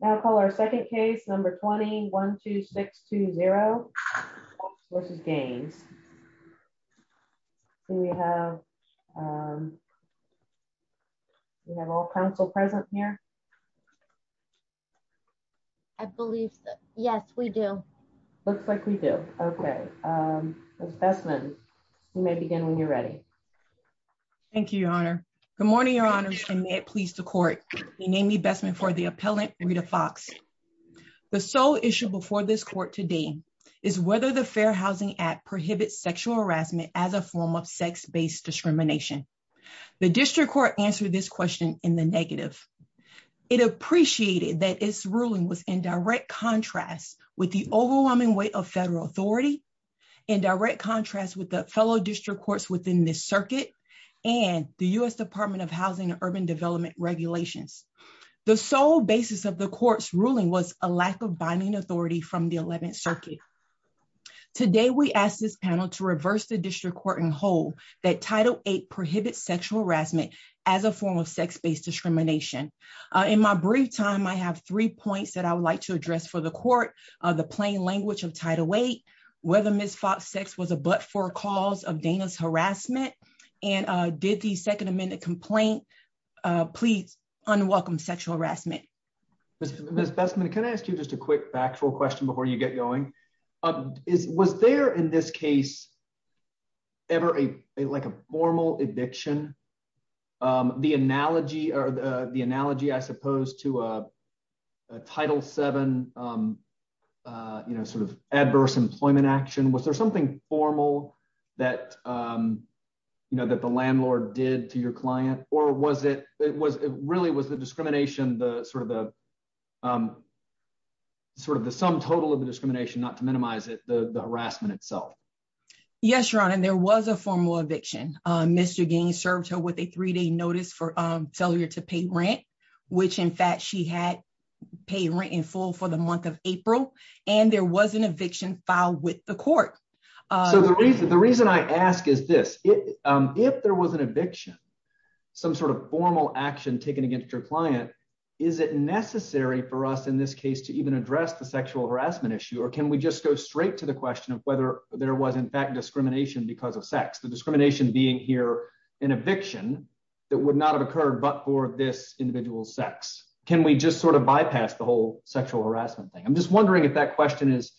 Now call our second case, number 20-12620 v. Gaines. Do we have all counsel present here? I believe so. Yes, we do. Looks like we do. Okay. Ms. Bessman, you may begin when you're ready. Thank you, Your Honor. Good morning, Your Honor, and may it please the court. I'm Amy Bessman for the appellant, Rita Fox. The sole issue before this court today is whether the Fair Housing Act prohibits sexual harassment as a form of sex-based discrimination. The district court answered this question in the negative. It appreciated that its ruling was in direct contrast with the overwhelming weight of federal authority, in direct contrast with the fellow district courts within this circuit, and the U.S. Department of Housing and Urban Development regulations. The sole basis of the court's ruling was a lack of binding authority from the 11th Circuit. Today, we ask this panel to reverse the district court and hold that Title VIII prohibits sexual harassment as a form of sex-based discrimination. In my brief time, I have three points that I would like to address for the court. The plain language of Title VIII, whether Ms. Fox's sex was a but-for cause of Dana's harassment, and did the Second Amendment complaint please unwelcome sexual harassment. Mr. Bessman, can I ask you just a quick factual question before you get going? Was there in this case ever a formal eviction? The analogy, I suppose, to Title VII adverse employment action, was there something formal that the landlord did to your client? Or really, was the discrimination sort of the sum total of the discrimination, not to minimize it, the harassment itself? Yes, Your Honor, there was a formal eviction. Mr. Gaines served her with a three-day notice for failure to pay rent, which in fact she had paid rent in full for the month of April, and there was an eviction filed with the court. So the reason I ask is this. If there was an eviction, some sort of formal action taken against your client, is it necessary for us in this case to even address the sexual harassment issue? Or can we just go straight to the question of whether there was in fact discrimination because of sex? The discrimination being here an eviction that would not have occurred but for this individual's sex. Can we just sort of bypass the whole sexual harassment thing? I'm just wondering if that question is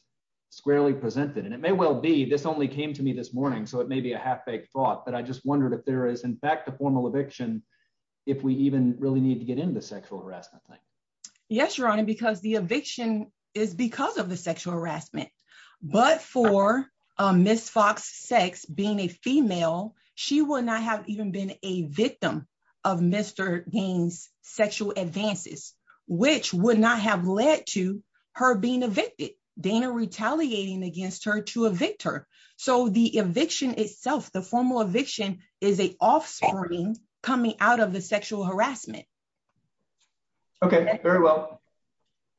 squarely presented. And it may well be, this only came to me this morning, so it may be a half-baked thought, but I just wondered if there is in fact a formal eviction, if we even really need to get into the sexual harassment thing. Yes, Your Honor, because the eviction is because of the sexual harassment. But for Ms. Fox's sex, being a female, she would not have even been a victim of Mr. Gaines' sexual advances, which would not have led to her being evicted. Dana retaliating against her to evict her. So the eviction itself, the formal eviction, is an offspring coming out of the sexual harassment. Okay, very well.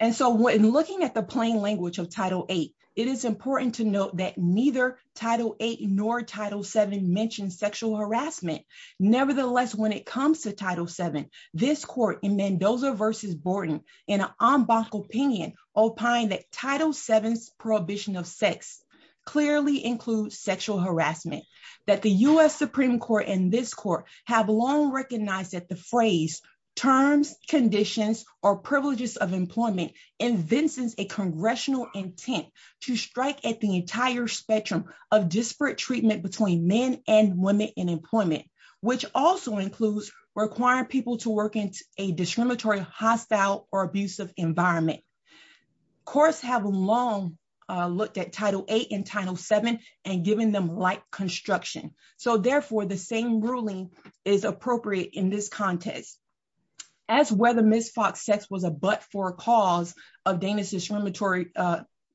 And so when looking at the plain language of Title VIII, it is important to note that neither Title VIII nor Title VII mention sexual harassment. Nevertheless, when it comes to Title VII, this court in Mendoza v. Borden, in an en banc opinion, opined that Title VII's prohibition of sex clearly includes sexual harassment. That the U.S. Supreme Court and this court have long recognized that the phrase, terms, conditions, or privileges of employment invents a congressional intent to strike at the entire spectrum of disparate treatment between men and women in employment, which also includes requiring people to work in a discriminatory, hostile, or abusive environment. Courts have long looked at Title VIII and Title VII and given them light construction. So therefore, the same ruling is appropriate in this context. As whether Ms. Fox's sex was a but-for cause of Dana's discriminatory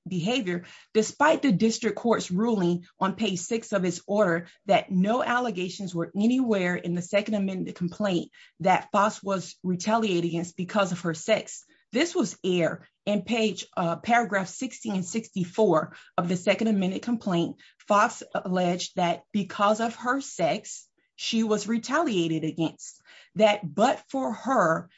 behavior, despite the district court's ruling on page 6 of its order that no allegations were anywhere in the Second Amendment complaint that Fox was retaliated against because of her sex. This was aired in paragraph 16 and 64 of the Second Amendment complaint. Fox alleged that because of her sex, she was retaliated against. That but for her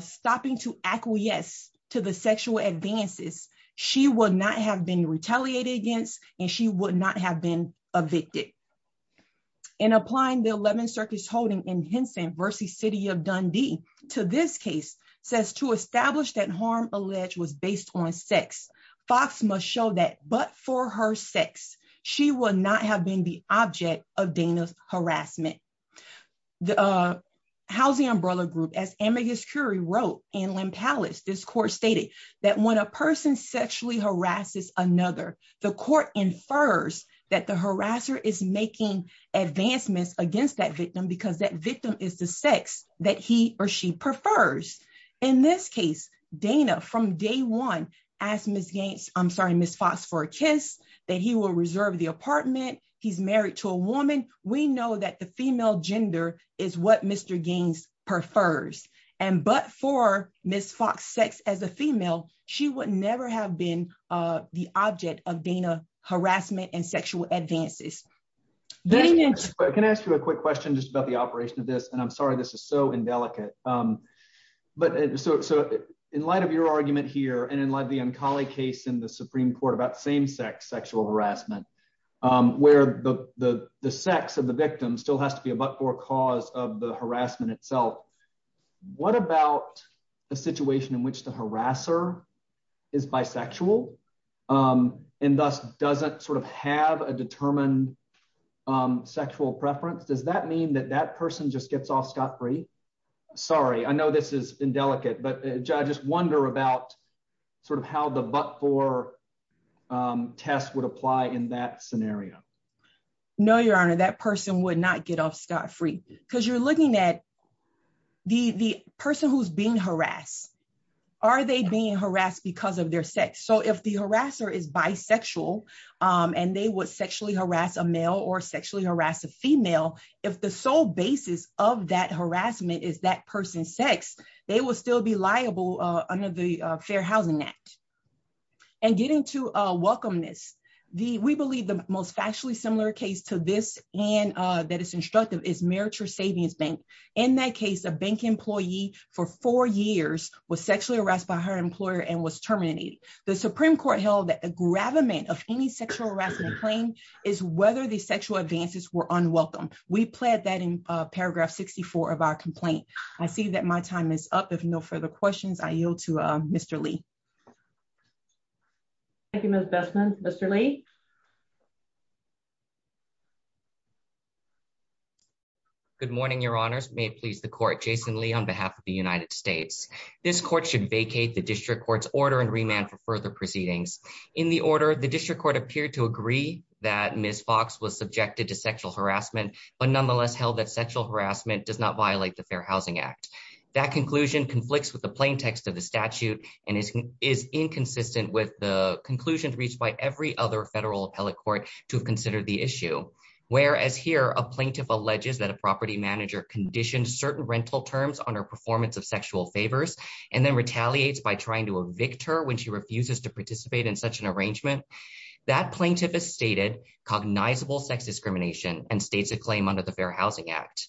stopping to acquiesce to the sexual advances, she would not have been retaliated against and she would not have been evicted. In applying the Eleventh Circuit's holding in Henson v. City of Dundee to this case, says to establish that harm alleged was based on sex, Fox must show that but for her sex, she would not have been the object of Dana's harassment. The Housing Umbrella Group, as Amicus Curie wrote in Lempallis, this court stated that when a person sexually harasses another, the court infers that the harasser is making advancements against that victim because that victim is the sex that he or she prefers. In this case, Dana, from day one, asked Ms. Fox for a kiss, that he will reserve the apartment, he's married to a woman. We know that the female gender is what Mr. Gaines prefers. And but for Ms. Fox's sex as a female, she would never have been the object of Dana's harassment and sexual advances. Can I ask you a quick question just about the operation of this and I'm sorry this is so indelicate. But so in light of your argument here and in light of the Ancali case in the Supreme Court about same-sex sexual harassment, where the sex of the victim still has to be a but-for cause of the harassment itself, what about a situation in which the harasser is bisexual and thus doesn't sort of have a determined sexual preference? Does that mean that that person just gets off scot-free? Sorry, I know this is indelicate, but I just wonder about sort of how the but-for test would apply in that scenario. No, Your Honor, that person would not get off scot-free. Because you're looking at the person who's being harassed. Are they being harassed because of their sex? So if the harasser is bisexual, and they would sexually harass a male or sexually harass a female, if the sole basis of that harassment is that person's sex, they will still be liable under the Fair Housing Act. And getting to welcomeness, we believe the most factually similar case to this and that is instructive is Meriture Savings Bank. In that case, a bank employee for four years was sexually harassed by her employer and was terminated. The Supreme Court held that a gravamen of any sexual harassment claim is whether the sexual advances were unwelcome. We plead that in paragraph 64 of our complaint. I see that my time is up. If no further questions, I yield to Mr. Lee. Thank you, Ms. Bessman. Mr. Lee? Good morning, Your Honors. May it please the Court, Jason Lee on behalf of the United States. This Court should vacate the District Court's order and remand for further proceedings. In the order, the District Court appeared to agree that Ms. Fox was subjected to sexual harassment, but nonetheless held that sexual harassment does not violate the Fair Housing Act. That conclusion conflicts with the plaintext of the statute and is inconsistent with the conclusions reached by every other federal appellate court to consider the issue. Whereas here, a plaintiff alleges that a property manager conditioned certain rental terms on her performance of sexual favors and then retaliates by trying to evict her when she refuses to participate in such an arrangement. That plaintiff has stated cognizable sex discrimination and states a claim under the Fair Housing Act.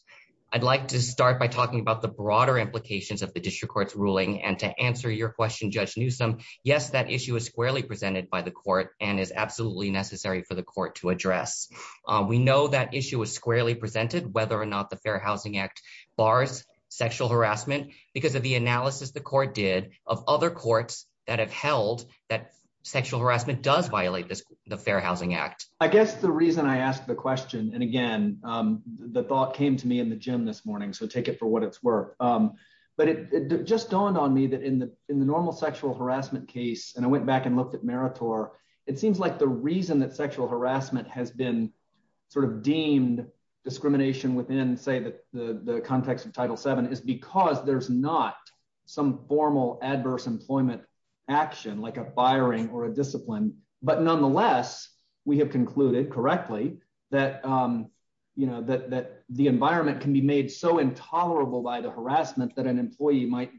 I'd like to start by talking about the broader implications of the District Court's ruling and to answer your question, Judge Newsom. Yes, that issue is squarely presented by the Court and is absolutely necessary for the Court to address. We know that issue is squarely presented, whether or not the Fair Housing Act bars sexual harassment because of the analysis the Court did of other courts that have held that sexual harassment does violate the Fair Housing Act. I guess the reason I asked the question, and again, the thought came to me in the gym this morning, so take it for what it's worth. It just dawned on me that in the normal sexual harassment case, and I went back and looked at Meritor, it seems like the reason that sexual harassment has been deemed discrimination within, say, the context of Title VII is because there's not some reason that it's so intolerable by the harassment that an employee might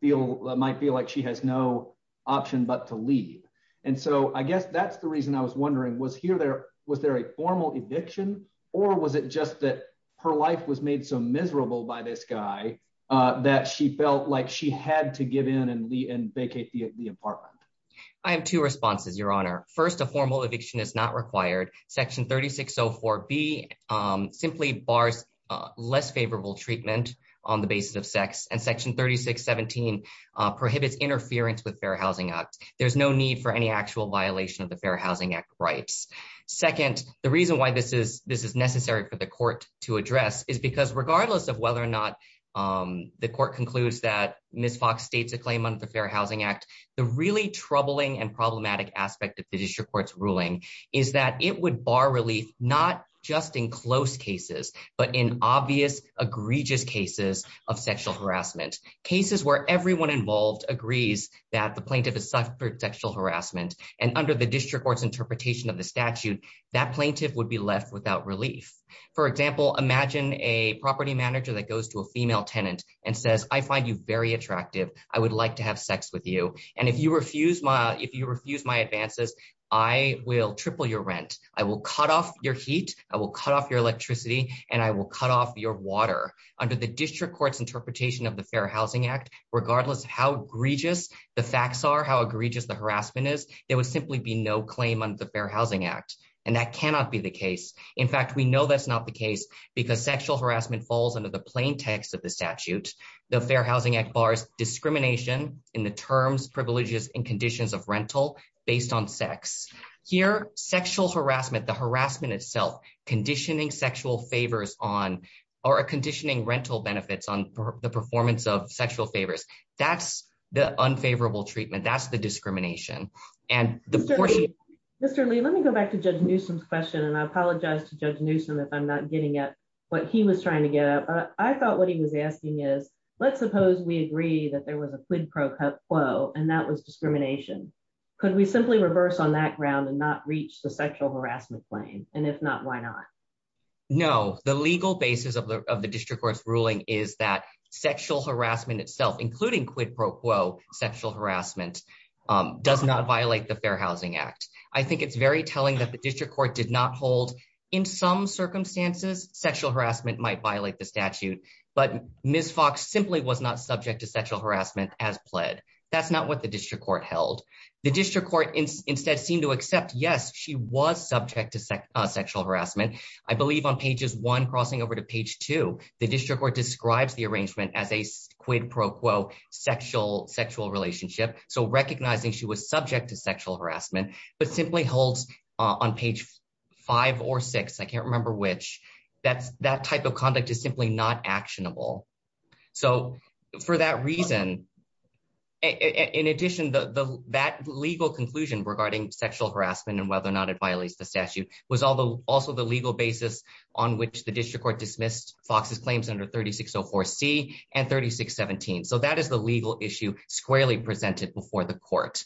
feel like she has no option but to leave. And so I guess that's the reason I was wondering, was there a formal eviction, or was it just that her life was made so miserable by this guy that she felt like she had to give in and vacate the apartment? I have two responses, Your Honor. First, a formal eviction is not required. Section 3604B simply bars less favorable treatment on the basis of sex, and Section 3617 prohibits interference with Fair Housing Act. There's no need for any actual violation of the Fair Housing Act rights. Second, the reason why this is this is necessary for the Court to address is because regardless of whether or not the Court concludes that Ms. Fox states a claim under the Fair Housing Act, the really troubling and problematic aspect of the District Court's ruling is that it would bar relief not just in close cases, but in obvious, egregious cases of sexual harassment. Cases where everyone involved agrees that the plaintiff has suffered sexual harassment, and under the District Court's interpretation of the statute, that plaintiff would be left without relief. For example, imagine a property manager that goes to a female tenant and says, I find you very attractive, I would like to have sex with you, and if you refuse my advances, I will triple your rent. I will cut off your heat, I will cut off your electricity, and I will cut off your water. Under the District Court's interpretation of the Fair Housing Act, regardless of how egregious the facts are, how egregious the harassment is, there would simply be no claim under the Fair Housing Act, and that cannot be the case. In fact, we know that's not the case because sexual harassment falls under the plain text of the statute. The Fair Housing Act bars discrimination in the terms, privileges, and conditions of rental based on sex. Here, sexual harassment, the harassment itself, conditioning sexual favors on, or conditioning rental benefits on the performance of sexual favors, that's the unfavorable treatment, that's the discrimination. Mr. Lee, let me go back to Judge Newsom's question, and I apologize to Judge Newsom if I'm not getting at what he was trying to get at. I thought what he was asking is, let's suppose we agree that there was a quid pro quo, and that was discrimination. Could we simply reverse on that ground and not reach the sexual harassment claim? And if not, why not? No, the legal basis of the District Court's ruling is that sexual harassment itself, including quid pro quo sexual harassment, does not violate the Fair Housing Act. I think it's very telling that the District Court did not hold, in some circumstances, sexual harassment might violate the statute, but Ms. Fox simply was not subject to sexual harassment as pled. That's not what the District Court held. The District Court instead seemed to accept, yes, she was subject to sexual harassment. I believe on pages one, crossing over to page two, the District Court describes the arrangement as a quid pro quo sexual relationship, so recognizing she was subject to sexual harassment, but simply holds on page five or six, I can't remember which, that type of conduct is simply not actionable. So for that reason, in addition, that legal conclusion regarding sexual harassment and whether or not it violates the statute was also the legal basis on which the District Court dismissed Fox's claims under 3604C and 3617. So that is the legal issue squarely presented before the court.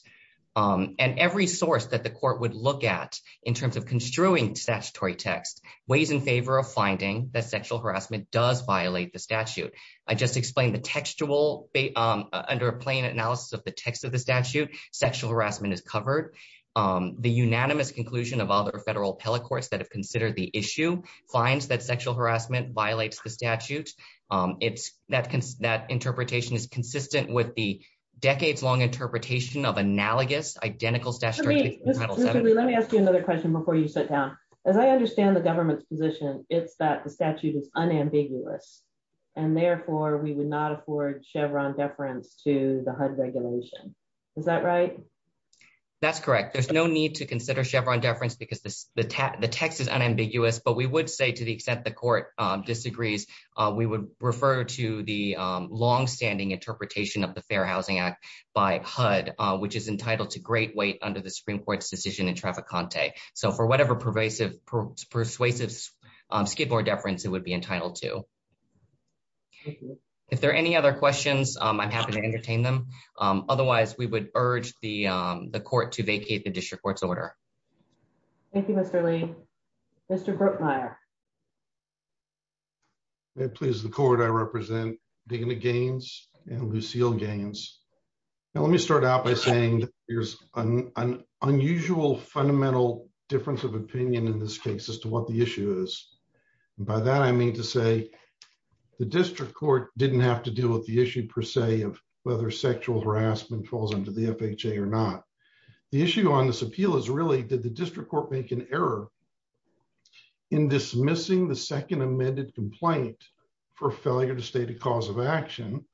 And every source that the court would look at in terms of construing statutory text weighs in favor of finding that sexual harassment does violate the statute. I just explained the textual, under a plain analysis of the text of the statute, sexual harassment is covered. The unanimous conclusion of other federal appellate courts that have considered the issue finds that sexual harassment violates the statute. That interpretation is consistent with the decades long interpretation of analogous, identical statutory text. Let me ask you another question before you sit down. As I understand the government's position, it's that the statute is unambiguous, and therefore we would not afford Chevron deference to the HUD regulation. Is that right? That's correct. There's no need to consider Chevron deference because the text is unambiguous, but we would say to the extent the court disagrees, we would refer to the longstanding interpretation of the Fair Housing Act by HUD, which is entitled to great weight under the Supreme Court's decision in Traficante. So for whatever persuasive skateboard deference it would be entitled to. If there are any other questions, I'm happy to entertain them. Otherwise, we would urge the court to vacate the district court's order. Thank you, Mr. Lee. Mr. Bruckmeier. May it please the court, I represent Digna Gaines and Lucille Gaines. Let me start out by saying there's an unusual fundamental difference of opinion in this case as to what the issue is. By that I mean to say the district court didn't have to deal with the issue per se of whether sexual harassment falls under the FHA or not. The issue on this appeal is really did the district court make an error in dismissing the second amended complaint for failure to state a cause of action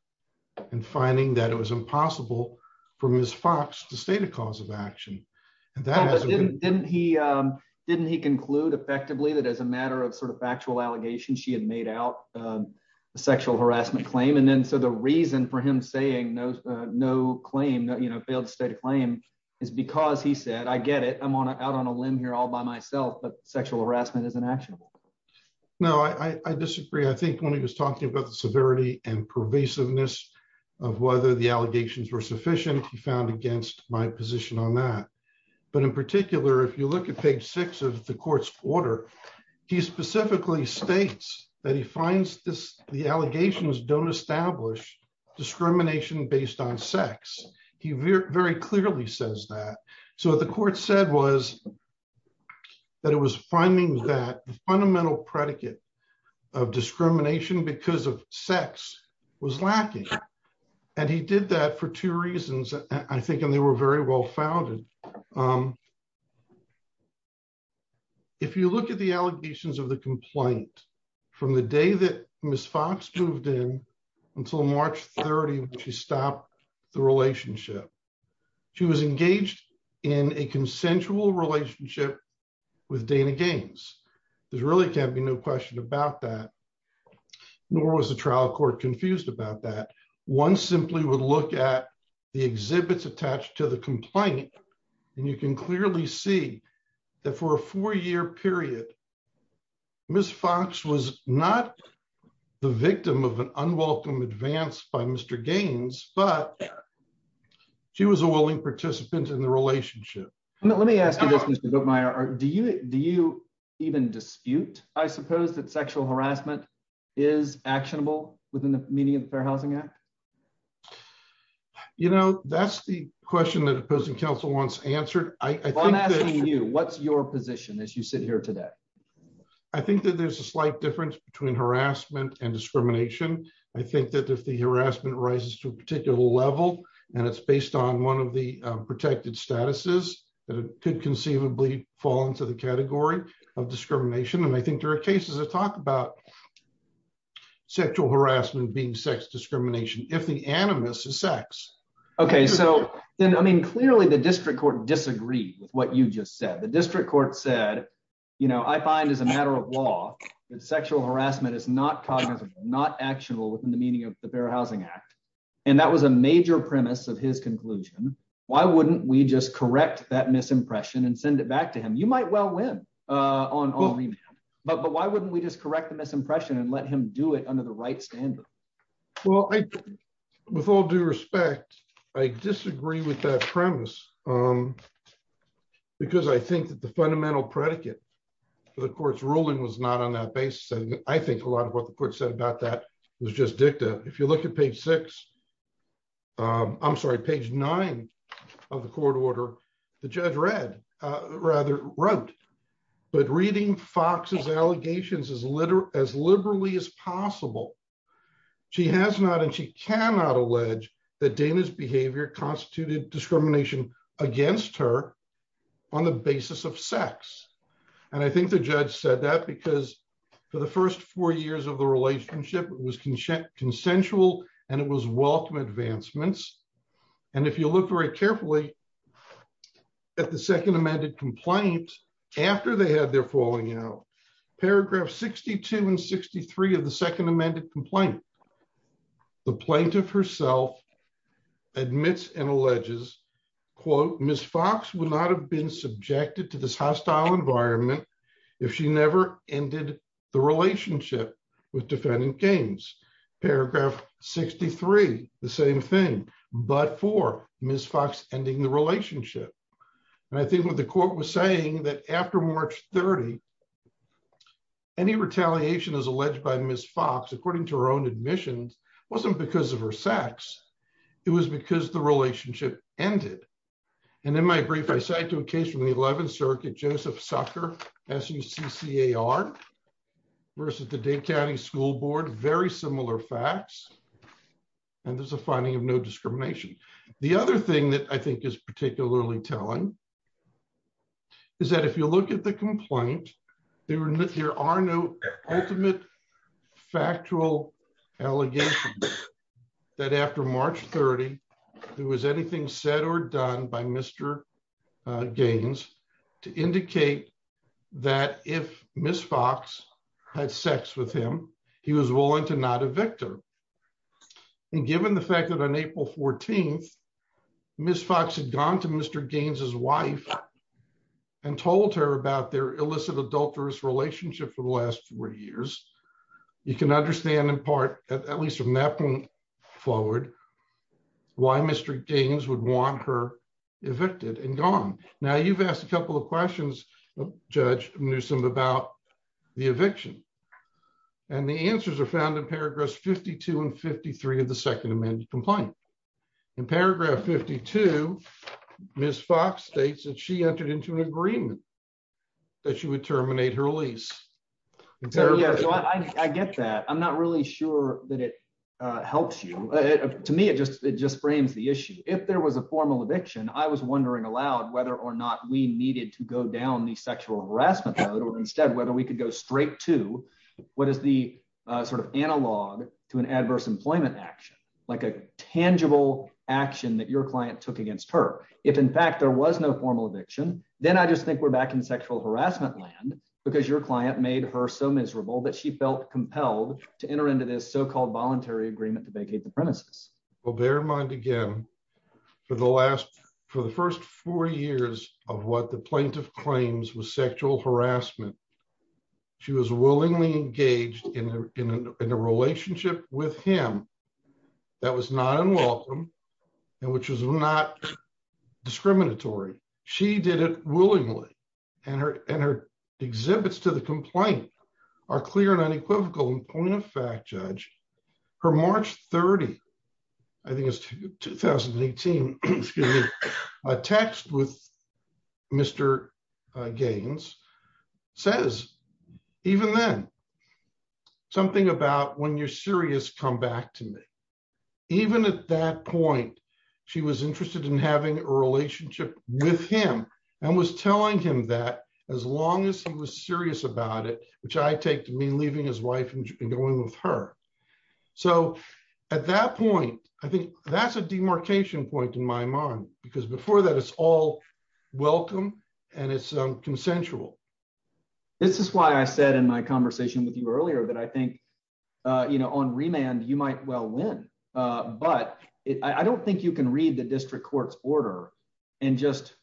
and finding that it was impossible for Ms. Fox to state a cause of action. Didn't he didn't he conclude effectively that as a matter of sort of factual allegation she had made out sexual harassment claim and then so the reason for him saying no, no claim that you know failed to state a claim is because he said I get it. I'm on out on a limb here all by myself but sexual harassment isn't actionable. No, I disagree. I think when he was talking about the severity and pervasiveness of whether the allegations were sufficient he found against my position on that. But in particular, if you look at page six of the court's order. He specifically states that he finds this, the allegations don't establish discrimination based on sex. He very clearly says that. So the court said was that it was finding that fundamental predicate of discrimination because of sex was lacking. And he did that for two reasons, I think, and they were very well founded. If you look at the allegations of the complaint. From the day that Ms Fox moved in until March 30 she stopped the relationship. She was engaged in a consensual relationship with Dana games. There's really can't be no question about that. Nor was the trial court confused about that one simply would look at the exhibits attached to the complaint. And you can clearly see that for a four year period. Ms Fox was not the victim of an unwelcome advanced by Mr. Gaines, but she was a willing participant in the relationship. Let me ask you this. Do you do you even dispute, I suppose that sexual harassment is actionable within the meaning of the Fair Housing Act. You know, that's the question that opposing counsel wants answered, I think that you what's your position as you sit here today. I think that there's a slight difference between harassment and discrimination. I think that if the harassment rises to a particular level, and it's based on one of the protected statuses that could conceivably fall into the category of discrimination and I think there are cases of talk about sexual harassment being sex discrimination, if the animus is sex. Okay, so then I mean clearly the district court disagree with what you just said the district court said, you know, I find as a matter of law, sexual harassment is not cognizant, not actionable within the meaning of the Fair Housing Act. And that was a major premise of his conclusion, why wouldn't we just correct that misimpression and send it back to him you might well win on. But but why wouldn't we just correct the misimpression and let him do it under the right standard. Well, I, with all due respect, I disagree with that premise. Because I think that the fundamental predicate for the courts ruling was not on that basis and I think a lot of what the court said about that was just dicta, if you look at page six. I'm sorry page nine of the court order. The judge read rather wrote, but reading Fox's allegations as literal as liberally as possible. She has not and she cannot allege that Dana's behavior constituted discrimination against her on the basis of sex. And I think the judge said that because for the first four years of the relationship was consent consensual, and it was welcome advancements. And if you look very carefully at the second amended complaint. After they had their falling out paragraph 62 and 63 of the second amended complaint. The plaintiff herself admits and alleges, quote, Miss Fox will not have been subjected to this hostile environment. If she never ended the relationship with defendant games paragraph 63, the same thing, but for Miss Fox ending the relationship. And I think what the court was saying that after March 30 any retaliation is alleged by Miss Fox according to her own admissions wasn't because of her sex. It was because the relationship ended. And in my brief I cite to a case from the 11th circuit Joseph sucker as you see car versus the day county school board very similar facts. And there's a finding of no discrimination. The other thing that I think is particularly telling is that if you look at the complaint. There are no ultimate factual allegations that after March 30, there was anything said or done by Mr. had sex with him. He was willing to not evict her. And given the fact that on April 14. Miss Fox had gone to Mr. Gaines his wife and told her about their illicit adulterous relationship for the last three years. You can understand in part, at least from that point forward. Why Mr. Gaines would want her evicted and gone. Now you've asked a couple of questions, Judge Newsome about the eviction. And the answers are found in paragraphs 52 and 53 of the Second Amendment complaint. In paragraph 52, Miss Fox states that she entered into an agreement that she would terminate her lease. I get that I'm not really sure that it helps you. To me it just, it just frames the issue if there was a formal eviction I was wondering aloud whether or not we needed to go down the sexual harassment mode or instead whether we could go straight to what is the sort of analog to an adverse employment action, like a tangible action that your client took against her. If in fact there was no formal eviction, then I just think we're back in sexual harassment land, because your client made her so miserable that she felt compelled to enter into this so called voluntary agreement to vacate the premises will bear in mind again for the last for the first four years of what the plaintiff claims was sexual harassment. She was willingly engaged in a relationship with him. That was not unwelcome. And which is not discriminatory. She did it willingly, and her, and her exhibits to the complaint are clear and unequivocal point of fact judge for March 30. I think it's 2018. A text with Mr. Gaines says, even then, something about when you're serious come back to me. Even at that point, she was interested in having a relationship with him, and was telling him that as long as he was serious about it, which I take me leaving his wife and going with her. So, at that point, I think that's a demarcation point in my mind, because before that it's all welcome, and it's consensual. This is why I said in my conversation with you earlier that I think you know on remand you might well win, but I don't think you can read the district courts order and just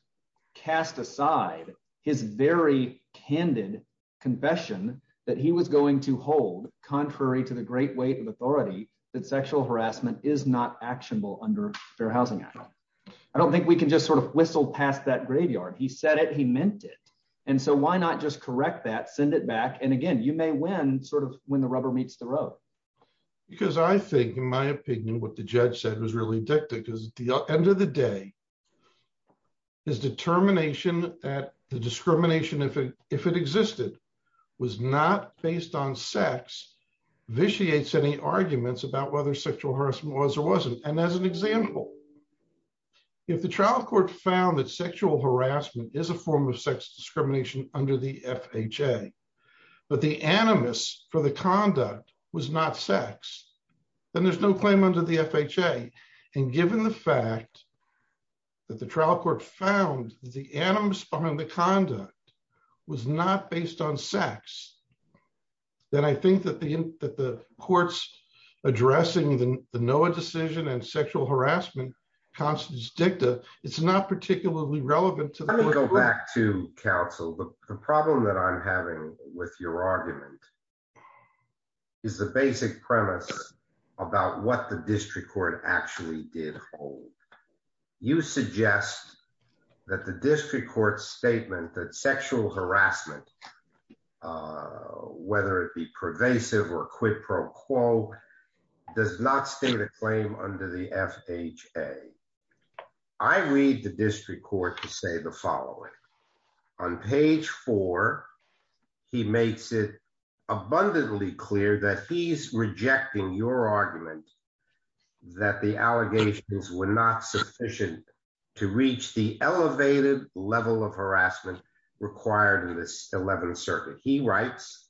cast aside his very candid confession that he was going to hold, contrary to the great weight of authority that sexual harassment is not actionable under Fair Housing Act. I don't think we can just sort of whistle past that graveyard he said it he meant it. And so why not just correct that send it back and again you may win sort of when the rubber meets the road, because I think in my opinion what the judge said was really addicted because the end of the day, is determination that the discrimination if it if it existed was not based on sex vitiates any arguments about whether sexual harassment was or wasn't, and as an example, if the trial court found that sexual harassment is a form of sex discrimination under the FHA, but the animus for the conduct was not sex, and there's no claim under the FHA, and given the fact that the trial court found the animals on the conduct was not based on sex. Then I think that the, that the courts, addressing the Noah decision and sexual harassment constitutes dicta, it's not particularly relevant to go back to counsel but the problem that I'm having with your argument is the basic premise about what the district court actually did. You suggest that the district court statement that sexual harassment, whether it be pervasive or quid pro quo does not state a claim under the FHA. I read the district court to say the following. On page four, he makes it abundantly clear that he's rejecting your argument that the allegations were not sufficient to reach the elevated level of harassment required in this 11th circuit. He writes,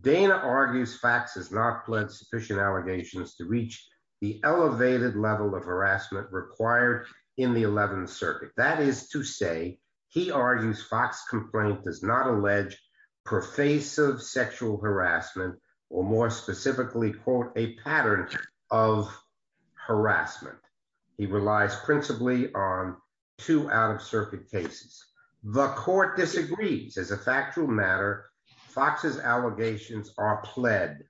Dana argues facts has not pled sufficient allegations to reach the elevated level of harassment required in the 11th circuit. That is to say, he argues Fox complaint does not allege pervasive sexual harassment, or more specifically quote a pattern of harassment. He relies principally on to out of circuit cases, the court disagrees as a factual matter, Fox's allegations are pled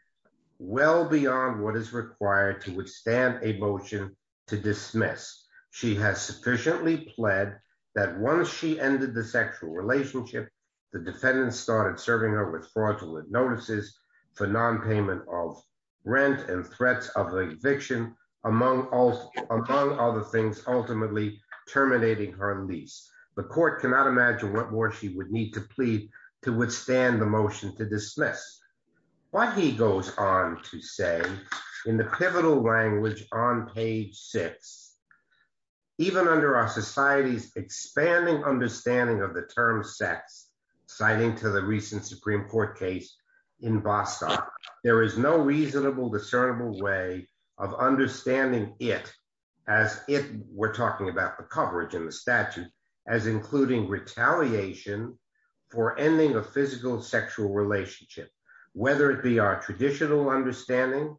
well beyond what is required to withstand a motion to dismiss. She has sufficiently pled that once she ended the sexual relationship. The defendants started serving her with fraudulent notices for non payment of rent and threats of eviction, among all, among other things, ultimately terminating her lease, the court Even under our society's expanding understanding of the term sex, citing to the recent Supreme Court case in Boston, there is no reasonable discernible way of understanding it as if we're talking about the coverage in the statute as including retaliation for ending a physical sexual relationship, whether it be our traditional understanding,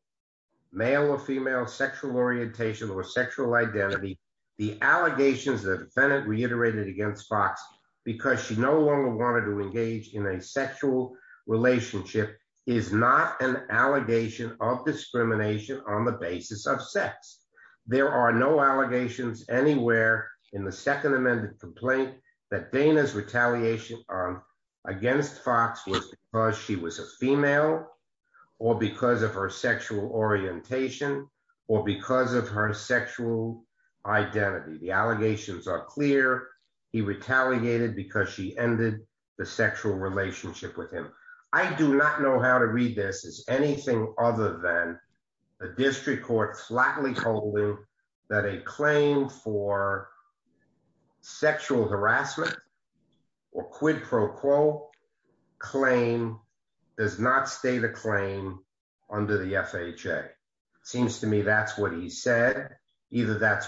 male or female sexual orientation or sexual identity, the allegations that defendant reiterated against Fox, because she no longer wanted to engage in a sexual relationship is not an allegation of discrimination on the basis of sex. There are no allegations anywhere in the Second Amendment complaint that Dana's retaliation on against Fox was because she was a female, or because of her sexual orientation, or because of her sexual identity. The allegations are clear. He retaliated because she ended the sexual relationship with him. I do not know how to read this as anything other than a district court flatly holding that a claim for that's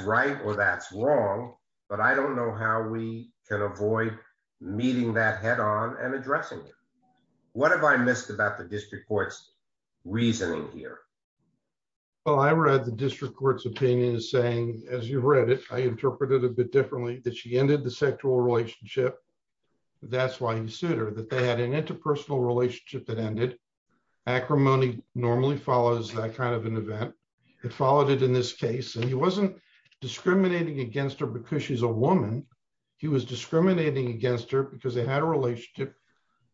right, or that's wrong. But I don't know how we can avoid meeting that head on and addressing. What have I missed about the district courts reasoning here. Well, I read the district courts opinion is saying, as you read it, I interpreted a bit differently that she ended the sexual relationship. That's why he sued her that they had an interpersonal relationship that ended acrimony normally follows that kind of an event that followed it in this case and he wasn't discriminating against her because she's a woman. He was discriminating against her because they had a relationship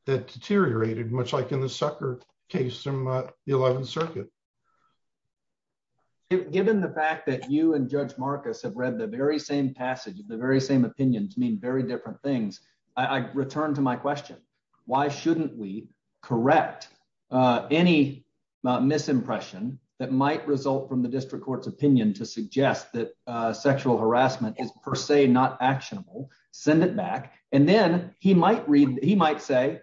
that deteriorated much like in the sucker case from the 11th Circuit, given the fact that you and Judge Marcus have read the very same passage of the very same opinions mean very different things. I returned to my question, why shouldn't we correct any misimpression that might result from the district courts opinion to suggest that sexual harassment is per se not actionable, send it back, and then he might read, he might say,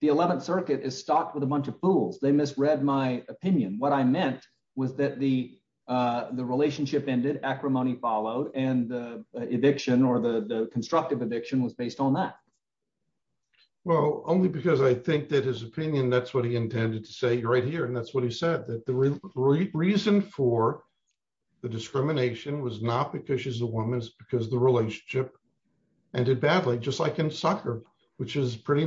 the 11th Circuit is stocked with a bunch of fools they misread my opinion what I meant was that the, the relationship ended acrimony followed and eviction or the constructive addiction was based on that. Well, only because I think that his opinion that's what he intended to say right here and that's what he said that the reason for the discrimination was not because she's a woman's because the relationship ended badly just like in soccer, which is pretty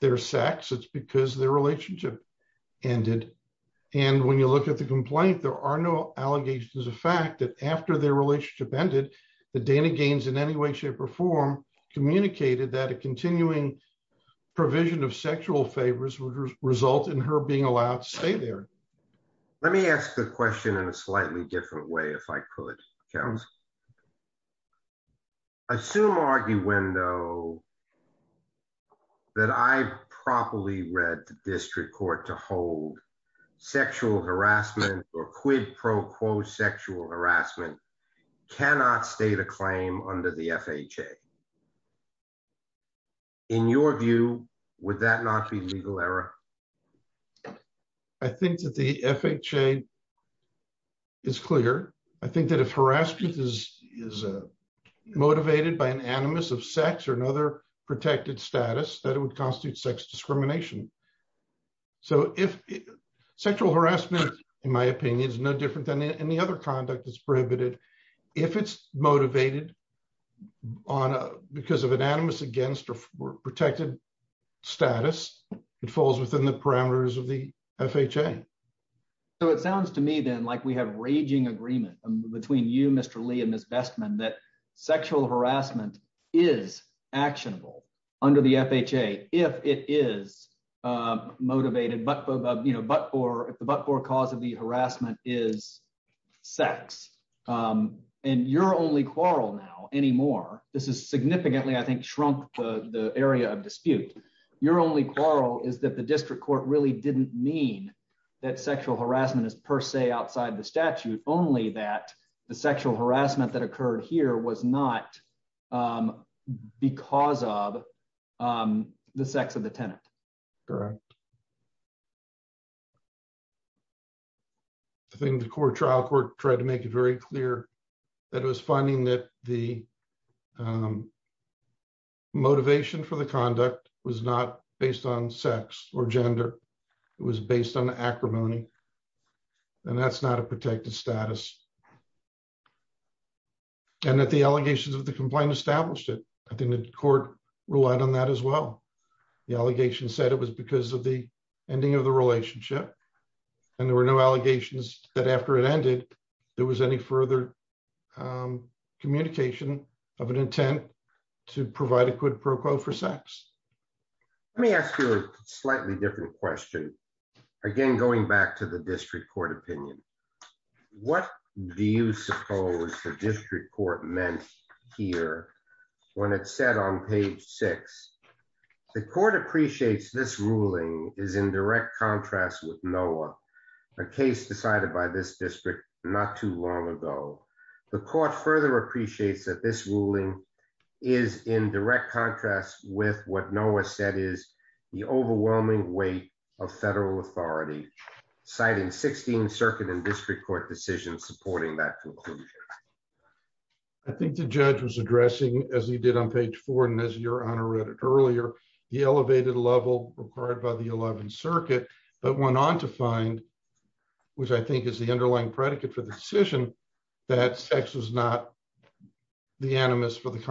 their sex it's because their relationship ended. And when you look at the complaint there are no allegations of fact that after their relationship ended the Dana Gaines in any way shape or form, communicated that a continuing provision of sexual favors would result in her being allowed to stay there. Let me ask the question in a slightly different way if I could count. Assume argue window that I properly read the district court to hold sexual harassment or quid pro quo sexual harassment cannot state a claim under the FHA. In your view, would that not be legal error. I think that the FHA is clear. I think that if harassment is is motivated by an animus of sex or another protected status that it would constitute sex discrimination. So if sexual harassment, in my opinion is no different than any other conduct is prohibited. If it's motivated on because of an animus against or protected status, it falls within the parameters of the FHA. Okay. So it sounds to me then like we have raging agreement between you Mr Lee and Miss best man that sexual harassment is actionable under the FHA, if it is motivated but you know but for the but for cause of the harassment is sex. And you're only quarrel now anymore. This is significantly I think shrunk the area of dispute. Your only quarrel is that the district court really didn't mean that sexual harassment is per se outside the statute, only that the sexual harassment that occurred here was not because of the sex of the tenant. Correct. I think the court trial court tried to make it very clear that it was finding that the motivation for the conduct was not based on sex or gender was based on the acrimony. And that's not a protected status. And that the allegations of the complaint established it. I think the court relied on that as well. The allegation said it was because of the ending of the relationship. And there were no allegations that after it ended. There was any further communication of an intent to provide a quid pro quo for sex. Let me ask you a slightly different question. Again, going back to the district court opinion. What do you suppose the district court meant here. When it said on page six. The court appreciates this ruling is in direct contrast with Noah, a case decided by this district, not too long ago, the court further appreciates that this ruling is in direct contrast with what Noah said is the overwhelming weight of federal authority, citing 16 circuit and district court decision supporting that. I think the judge was addressing, as he did on page four and as your honor read it earlier, the elevated level required by the 11th circuit, but went on to find, which I think is the underlying predicate for the decision that sex is not the animus for the the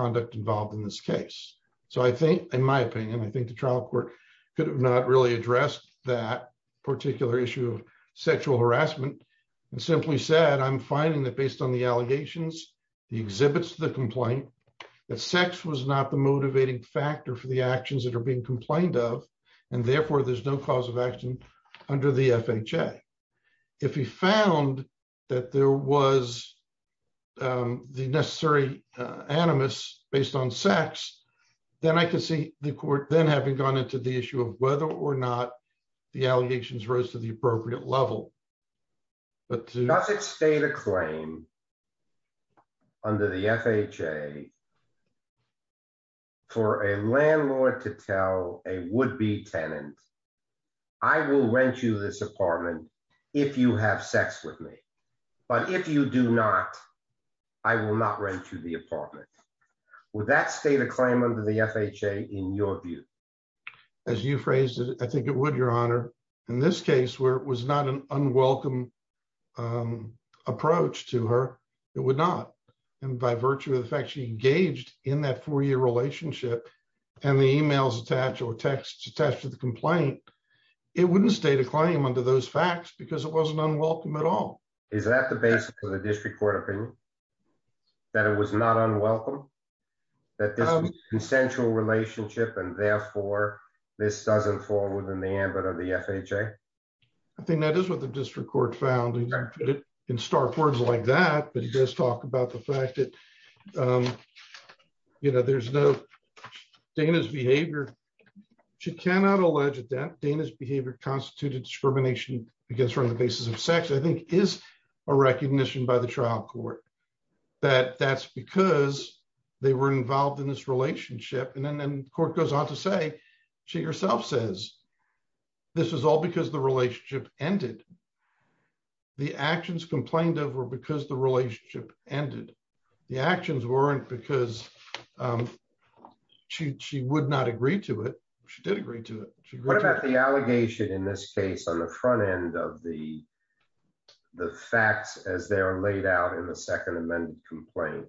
exhibits the complaint that sex was not the motivating factor for the actions that are being complained of. And therefore there's no cause of action under the FHA. If he found that there was the necessary animus based on sex. Then I can see the court then having gone into the issue of whether or not the allegations rose to the appropriate level. But does it state a claim under the FHA for a landlord to tell a would be tenant. I will rent you this apartment. If you have sex with me. But if you do not. I will not rent you the apartment. Would that state a claim under the FHA in your view. As you phrased it, I think it would your honor. In this case where it was not an unwelcome approach to her. It would not. And by virtue of the fact she engaged in that four year relationship, and the emails attached or text attached to the complaint. It wouldn't state a claim under those facts because it wasn't unwelcome at all. Is that the basis for the district court opinion that it was not unwelcome that this consensual relationship and therefore, this doesn't fall within the ambit of the FHA. I think that is what the district court found in stark words like that, but he does talk about the fact that you know there's no Dana's behavior. She cannot allege that Dana's behavior constituted discrimination against her on the basis of sex I think is a recognition by the trial court that that's because they were involved in this relationship and then court goes on to say, she herself says, This is all because the relationship ended. The actions complained of were because the relationship ended the actions weren't because she would not agree to it. She did agree to it. What about the allegation in this case on the front end of the, the facts as they are laid out in the Second Amendment complaint,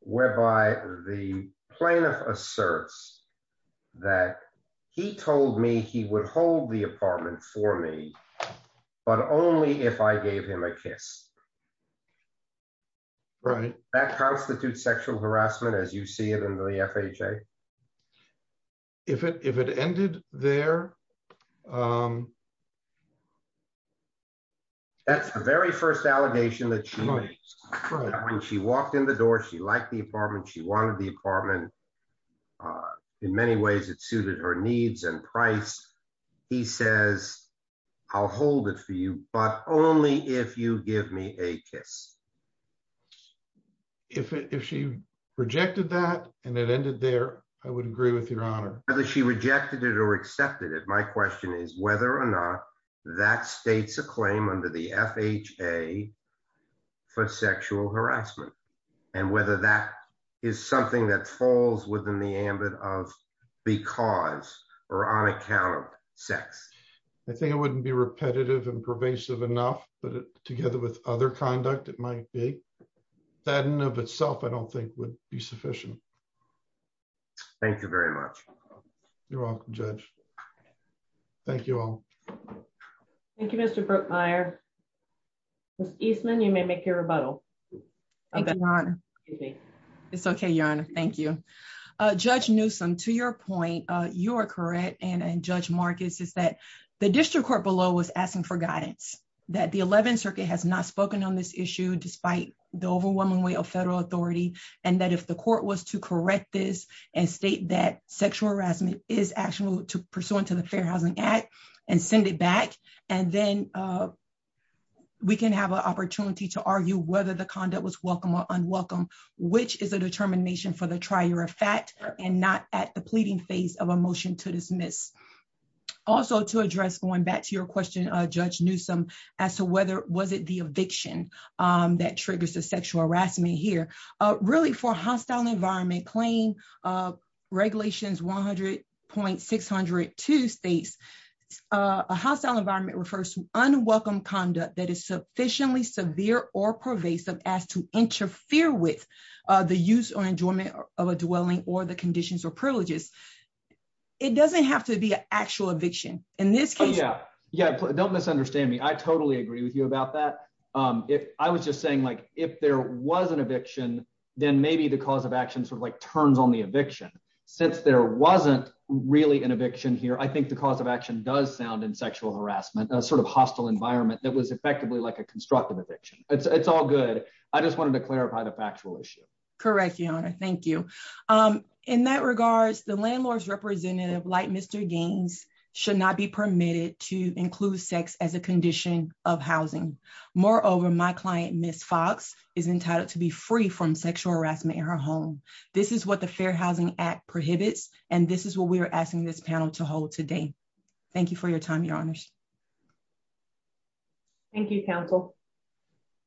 whereby the plaintiff asserts that he told me he would hold the apartment for me, but only if I gave him a kiss. Right, that constitutes sexual harassment as you see it in the FHA. If it if it ended there. That's the very first allegation that she when she walked in the door she liked the apartment she wanted the apartment. In many ways, it suited her needs and price. He says, I'll hold it for you, but only if you give me a kiss. If she rejected that, and it ended there. I would agree with your honor, whether she rejected it or accepted it. My question is whether or not that states a claim under the FHA for sexual harassment, and whether that is something that falls within the ambit of because or on account of sex. I think it wouldn't be repetitive and pervasive enough, but together with other conduct, it might be that in of itself I don't think would be sufficient. Thank you very much. You're welcome. Thank you all. Thank you, Mr. Eastman you may make your rebuttal. It's okay, your honor. Thank you. Judge Newsome to your point, you're correct and and Judge Marcus is that the district court below was asking for guidance that the 11th Circuit has not spoken on this issue despite the overwhelming weight of federal authority, and that if the court was to correct this and state that sexual harassment is actionable to pursuant to the Fair Housing Act, and send it back, and then we can have an opportunity to argue whether the conduct was welcome or unwelcome, which is a determination for the trier of fact, and not at the pleading phase of a motion to dismiss. Also to address going back to your question, Judge Newsome, as to whether, was it the eviction that triggers the sexual harassment here really for hostile environment claim regulations 100.602 states, a hostile environment refers to unwelcome conduct that is sufficiently severe or pervasive as to interfere with the use or enjoyment of a dwelling or the conditions or privileges. It doesn't have to be an actual eviction. In this case, yeah, yeah, don't misunderstand me I totally agree with you about that. I was just saying like, if there was an eviction, then maybe the cause of action sort of like turns on the eviction, since there wasn't really an eviction here I think the cause of action does sound and sexual harassment sort of hostile environment that was effectively like a constructive eviction, it's all good. I just wanted to clarify the factual issue. Correct. Thank you. In that regards the landlord's representative like Mr. Gaines should not be permitted to include sex as a condition of housing. Moreover, my client Miss Fox is entitled to be free from sexual harassment in her home. This is what the Fair Housing Act prohibits, and this is what we are asking this panel to hold today. Thank you for your time, Your Honors. Thank you counsel.